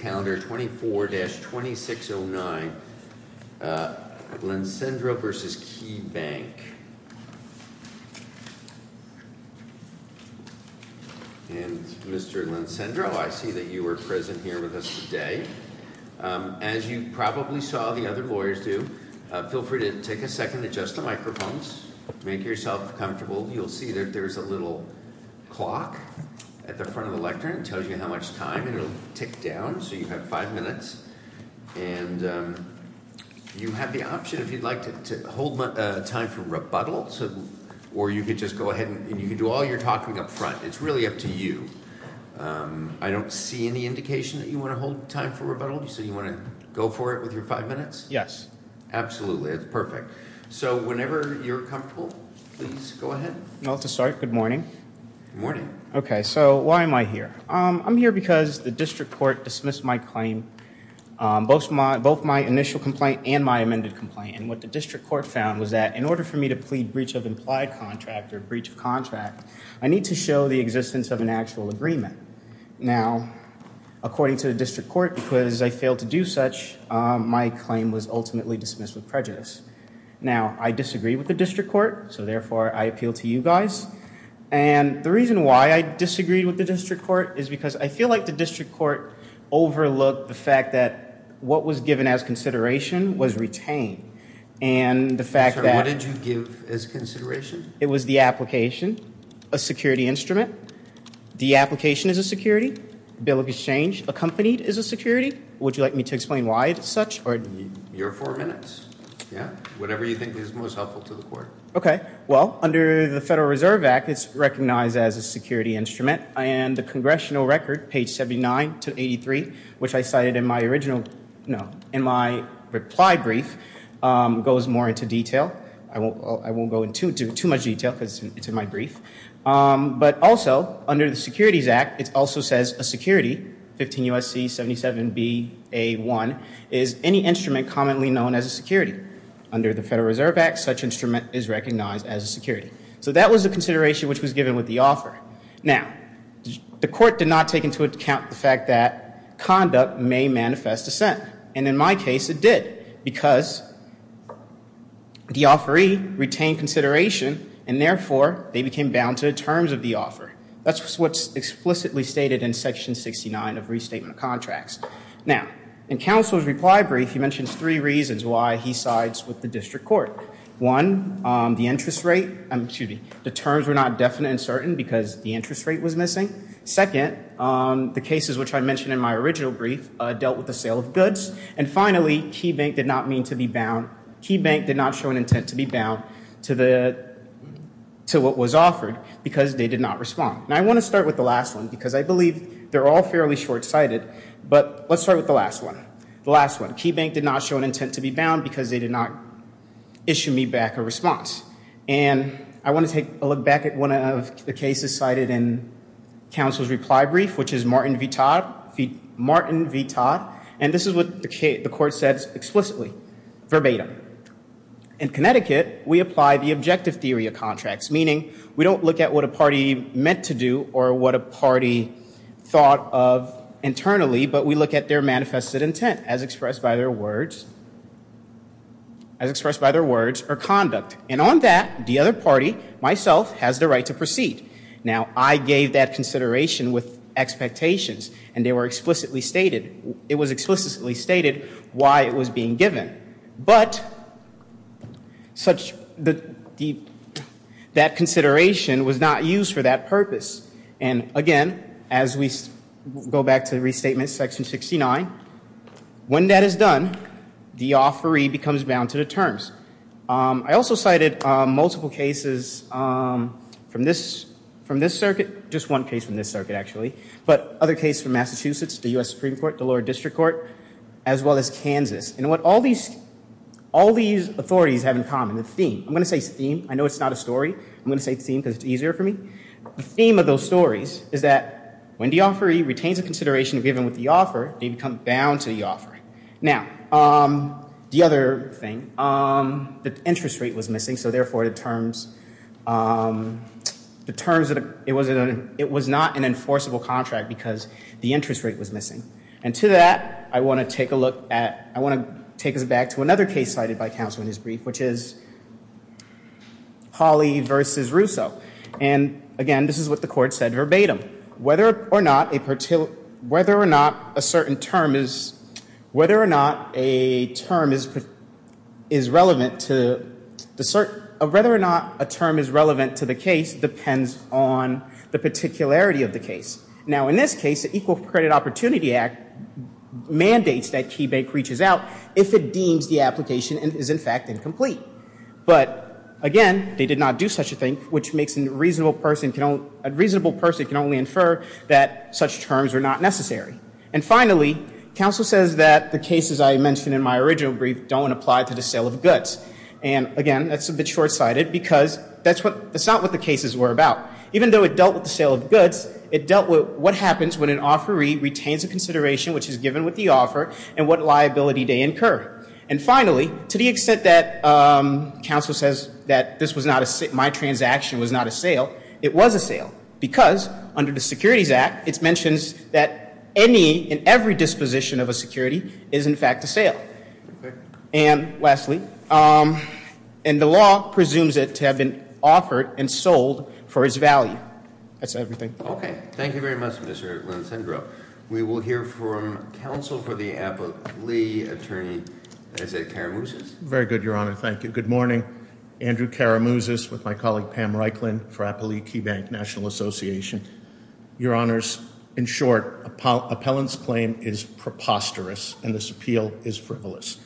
calendar 24-2609, Lensendro v. Keybank. And Mr. Lensendro, I see that you are present here with us today. As you probably saw the other lawyers do, feel free to take a second to adjust the microphones, make yourself comfortable. You'll see that there's a little clock at the front of the lectern that tells you how much time, and it'll tick down so you have five minutes, and you have the option if you'd like to hold time for rebuttal, or you could just go ahead and you can do all your talking up front. It's really up to you. I don't see any indication that you want to hold time for rebuttal, so you want to go for it with your five minutes? Yes. Absolutely. That's perfect. So whenever you're comfortable, please go ahead. I'll start. Good morning. Good morning. Okay, so why am I here? I'm here because the district court dismissed my claim, both my initial complaint and my amended complaint. And what the district court found was that in order for me to plead breach of implied contract or breach of contract, I need to show the existence of an actual agreement. Now according to the district court, because I failed to do such, my claim was ultimately dismissed with prejudice. Now I disagree with the district court, so therefore I appeal to you guys. And the reason why I disagreed with the district court is because I feel like the district court overlooked the fact that what was given as consideration was retained. And the fact that... Sir, what did you give as consideration? It was the application, a security instrument. The application is a security. Bill of Exchange accompanied is a security. Would you like me to explain why it's such? Your four minutes. Yeah. Whatever you think is most helpful to the court. Okay. Well, under the Federal Reserve Act, it's recognized as a security instrument. And the congressional record, page 79 to 83, which I cited in my reply brief, goes more into detail. I won't go into too much detail because it's in my brief. But also, under the Securities Act, it also says a security, 15 U.S.C. 77 B.A. 1, is any instrument commonly known as a security. Under the Federal Reserve Act, such instrument is recognized as a security. So that was the consideration which was given with the offer. Now, the court did not take into account the fact that conduct may manifest dissent. And in my case, it did because the offeree retained consideration, and therefore, they became bound to the terms of the offer. That's what's explicitly stated in Section 69 of Restatement of Contracts. Now, in counsel's reply brief, he mentions three reasons why he sides with the district court. One, the interest rate, excuse me, the terms were not definite and certain because the interest rate was missing. Second, the cases which I mentioned in my original brief dealt with the sale of goods. And finally, KeyBank did not mean to be bound, KeyBank did not show an intent to be bound to what was offered because they did not respond. Now, I want to start with the last one because I believe they're all fairly short-sighted. But let's start with the last one. The last one, KeyBank did not show an intent to be bound because they did not issue me back a response. And I want to take a look back at one of the cases cited in counsel's reply brief, which is Martin V. Todd. And this is what the court says explicitly, verbatim. In Connecticut, we apply the objective theory of contracts, meaning we don't look at what a party meant to do or what a party thought of internally, but we look at their manifested intent as expressed by their words, as expressed by their words or conduct. And on that, the other party, myself, has the right to proceed. Now, I gave that consideration with expectations and they were explicitly stated, it was explicitly stated why it was being given. But that consideration was not used for that purpose. And again, as we go back to restatement section 69, when that is done, the offeree becomes bound to the terms. I also cited multiple cases from this circuit, just one case from this circuit, actually, but other cases from Massachusetts, the US Supreme Court, the lower district court, as well as Kansas. And what all these authorities have in common, the theme, I'm going to say theme, I know it's not a story, I'm going to say theme because it's easier for me, the theme of those stories is that when the offeree retains a consideration given with the offer, they become bound to the offer. Now, the other thing, the interest rate was missing, so therefore, the terms, it was not an enforceable contract because the interest rate was missing. And to that, I want to take a look at, I want to take us back to another case cited by counsel in his brief, which is Hawley versus Russo. And again, this is what the court said verbatim, whether or not a term is relevant to the case depends on the particularity of the case. Now, in this case, the Equal Credit Opportunity Act mandates that KeyBank reaches out if it deems the application is, in fact, incomplete, but again, they did not do such a thing, which makes a reasonable person can only infer that such terms are not necessary. And finally, counsel says that the cases I mentioned in my original brief don't apply to the sale of goods. And again, that's a bit short-sighted because that's not what the cases were about. Even though it dealt with the sale of goods, it dealt with what happens when an offeree retains a consideration which is given with the offer and what liability they incur. And finally, to the extent that counsel says that this was not a, my transaction was not a sale, it was a sale because under the Securities Act, it mentions that any and every disposition of a security is, in fact, a sale. And lastly, and the law presumes it to have been offered and sold for its value. That's everything. Thank you very much, Mr. Lincendro. We will hear from counsel for the Applee Attorney, as I said, Kara Mousis. Very good, Your Honor. Thank you. Good morning. Andrew Kara Mousis with my colleague Pam Reikland for Applee KeyBank National Association. Your Honors, in short, appellant's claim is preposterous and this appeal is frivolous.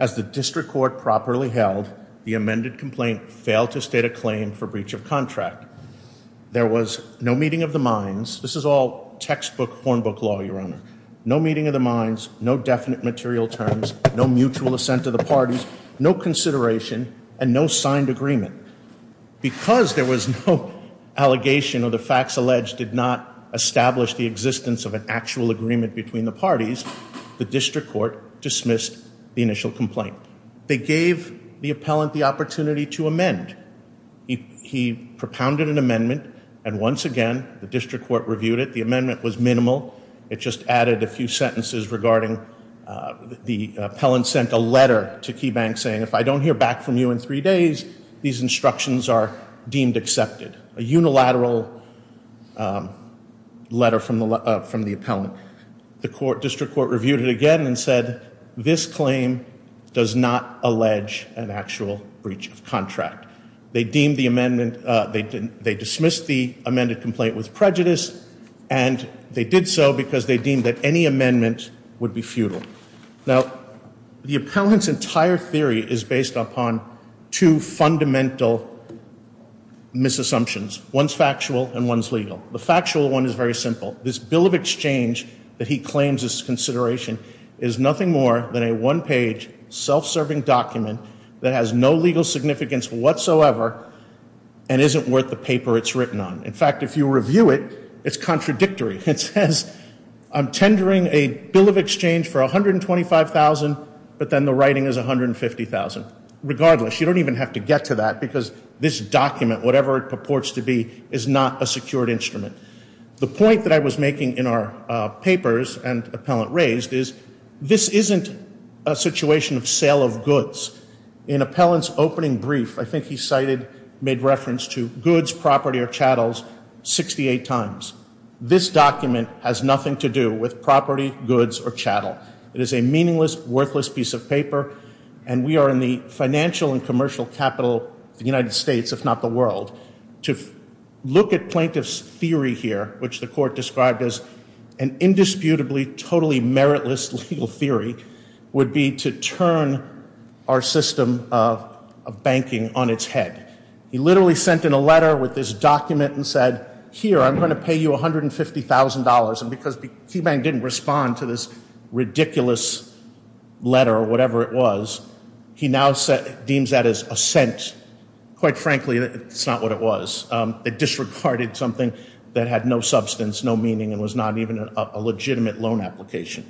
As the district court properly held, the amended complaint failed to state a claim for breach of contract. There was no meeting of the minds. This is all textbook hornbook law, Your Honor. No meeting of the minds, no definite material terms, no mutual assent of the parties, no consideration, and no signed agreement. Because there was no allegation or the facts alleged did not establish the existence of an actual agreement between the parties, the district court dismissed the initial complaint. They gave the appellant the opportunity to amend. He propounded an amendment, and once again, the district court reviewed it. The amendment was minimal. It just added a few sentences regarding the appellant sent a letter to KeyBank saying, if I don't hear back from you in three days, these instructions are deemed accepted. A unilateral letter from the appellant. The district court reviewed it again and said, this claim does not allege an actual breach of contract. They deemed the amendment, they dismissed the amended complaint with prejudice, and they did so because they deemed that any amendment would be futile. Now, the appellant's entire theory is based upon two fundamental misassumptions. One's factual, and one's legal. The factual one is very simple. This bill of exchange that he claims is consideration is nothing more than a one-page, self-serving document that has no legal significance whatsoever and isn't worth the paper it's written on. In fact, if you review it, it's contradictory. It says, I'm tendering a bill of exchange for 125,000, but then the writing is 150,000. Regardless, you don't even have to get to that because this document, whatever it purports to be, is not a secured instrument. The point that I was making in our papers and appellant raised is, this isn't a situation of sale of goods. In appellant's opening brief, I think he cited, made reference to goods, property, or chattels 68 times. This document has nothing to do with property, goods, or chattel. It is a meaningless, worthless piece of paper. And we are in the financial and commercial capital of the United States, if not the world. To look at plaintiff's theory here, which the court described as an indisputably, totally meritless legal theory, would be to turn our system of banking on its head. He literally sent in a letter with this document and said, here, I'm going to pay you $150,000. And because KeyBank didn't respond to this ridiculous letter, or whatever it was, he now deems that as a scent, quite frankly, it's not what it was. They disregarded something that had no substance, no meaning, and was not even a legitimate loan application.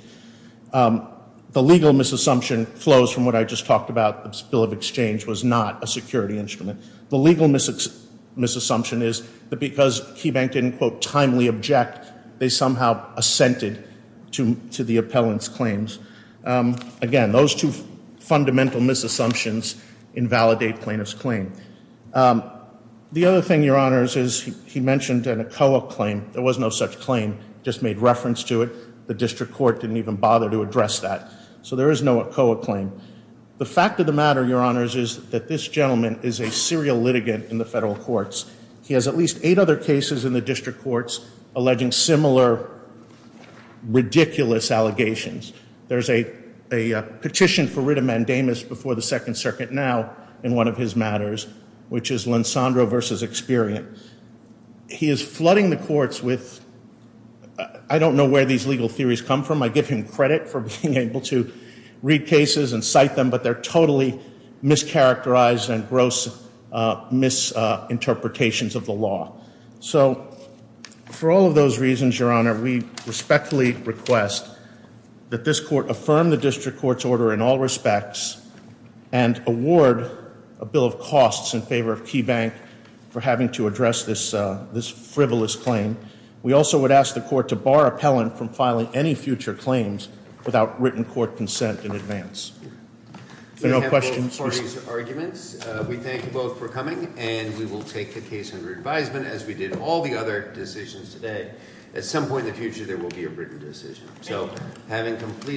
The legal misassumption flows from what I just talked about. This bill of exchange was not a security instrument. The legal misassumption is that because KeyBank didn't, quote, timely object, they somehow assented to the appellant's claims. Again, those two fundamental misassumptions invalidate plaintiff's claim. The other thing, your honors, is he mentioned an ACOA claim. There was no such claim. Just made reference to it. The district court didn't even bother to address that. So there is no ACOA claim. The fact of the matter, your honors, is that this gentleman is a serial litigant in the federal courts. He has at least eight other cases in the district courts alleging similar ridiculous allegations. There's a petition for writ of mandamus before the second circuit now, in one of his matters, which is Lansandro versus Experian. He is flooding the courts with, I don't know where these legal theories come from. I give him credit for being able to read cases and cite them, but they're totally mischaracterized and gross misinterpretations of the law. So for all of those reasons, your honor, we respectfully request that this court affirm the district court's order in all respects and award a bill of costs in favor of Key Bank for having to address this frivolous claim. We also would ask the court to bar appellant from filing any future claims without written court consent in advance. If there are no questions- We have both parties' arguments. We thank you both for coming, and we will take the case under advisement as we did all the other decisions today. At some point in the future, there will be a written decision. So, having completed-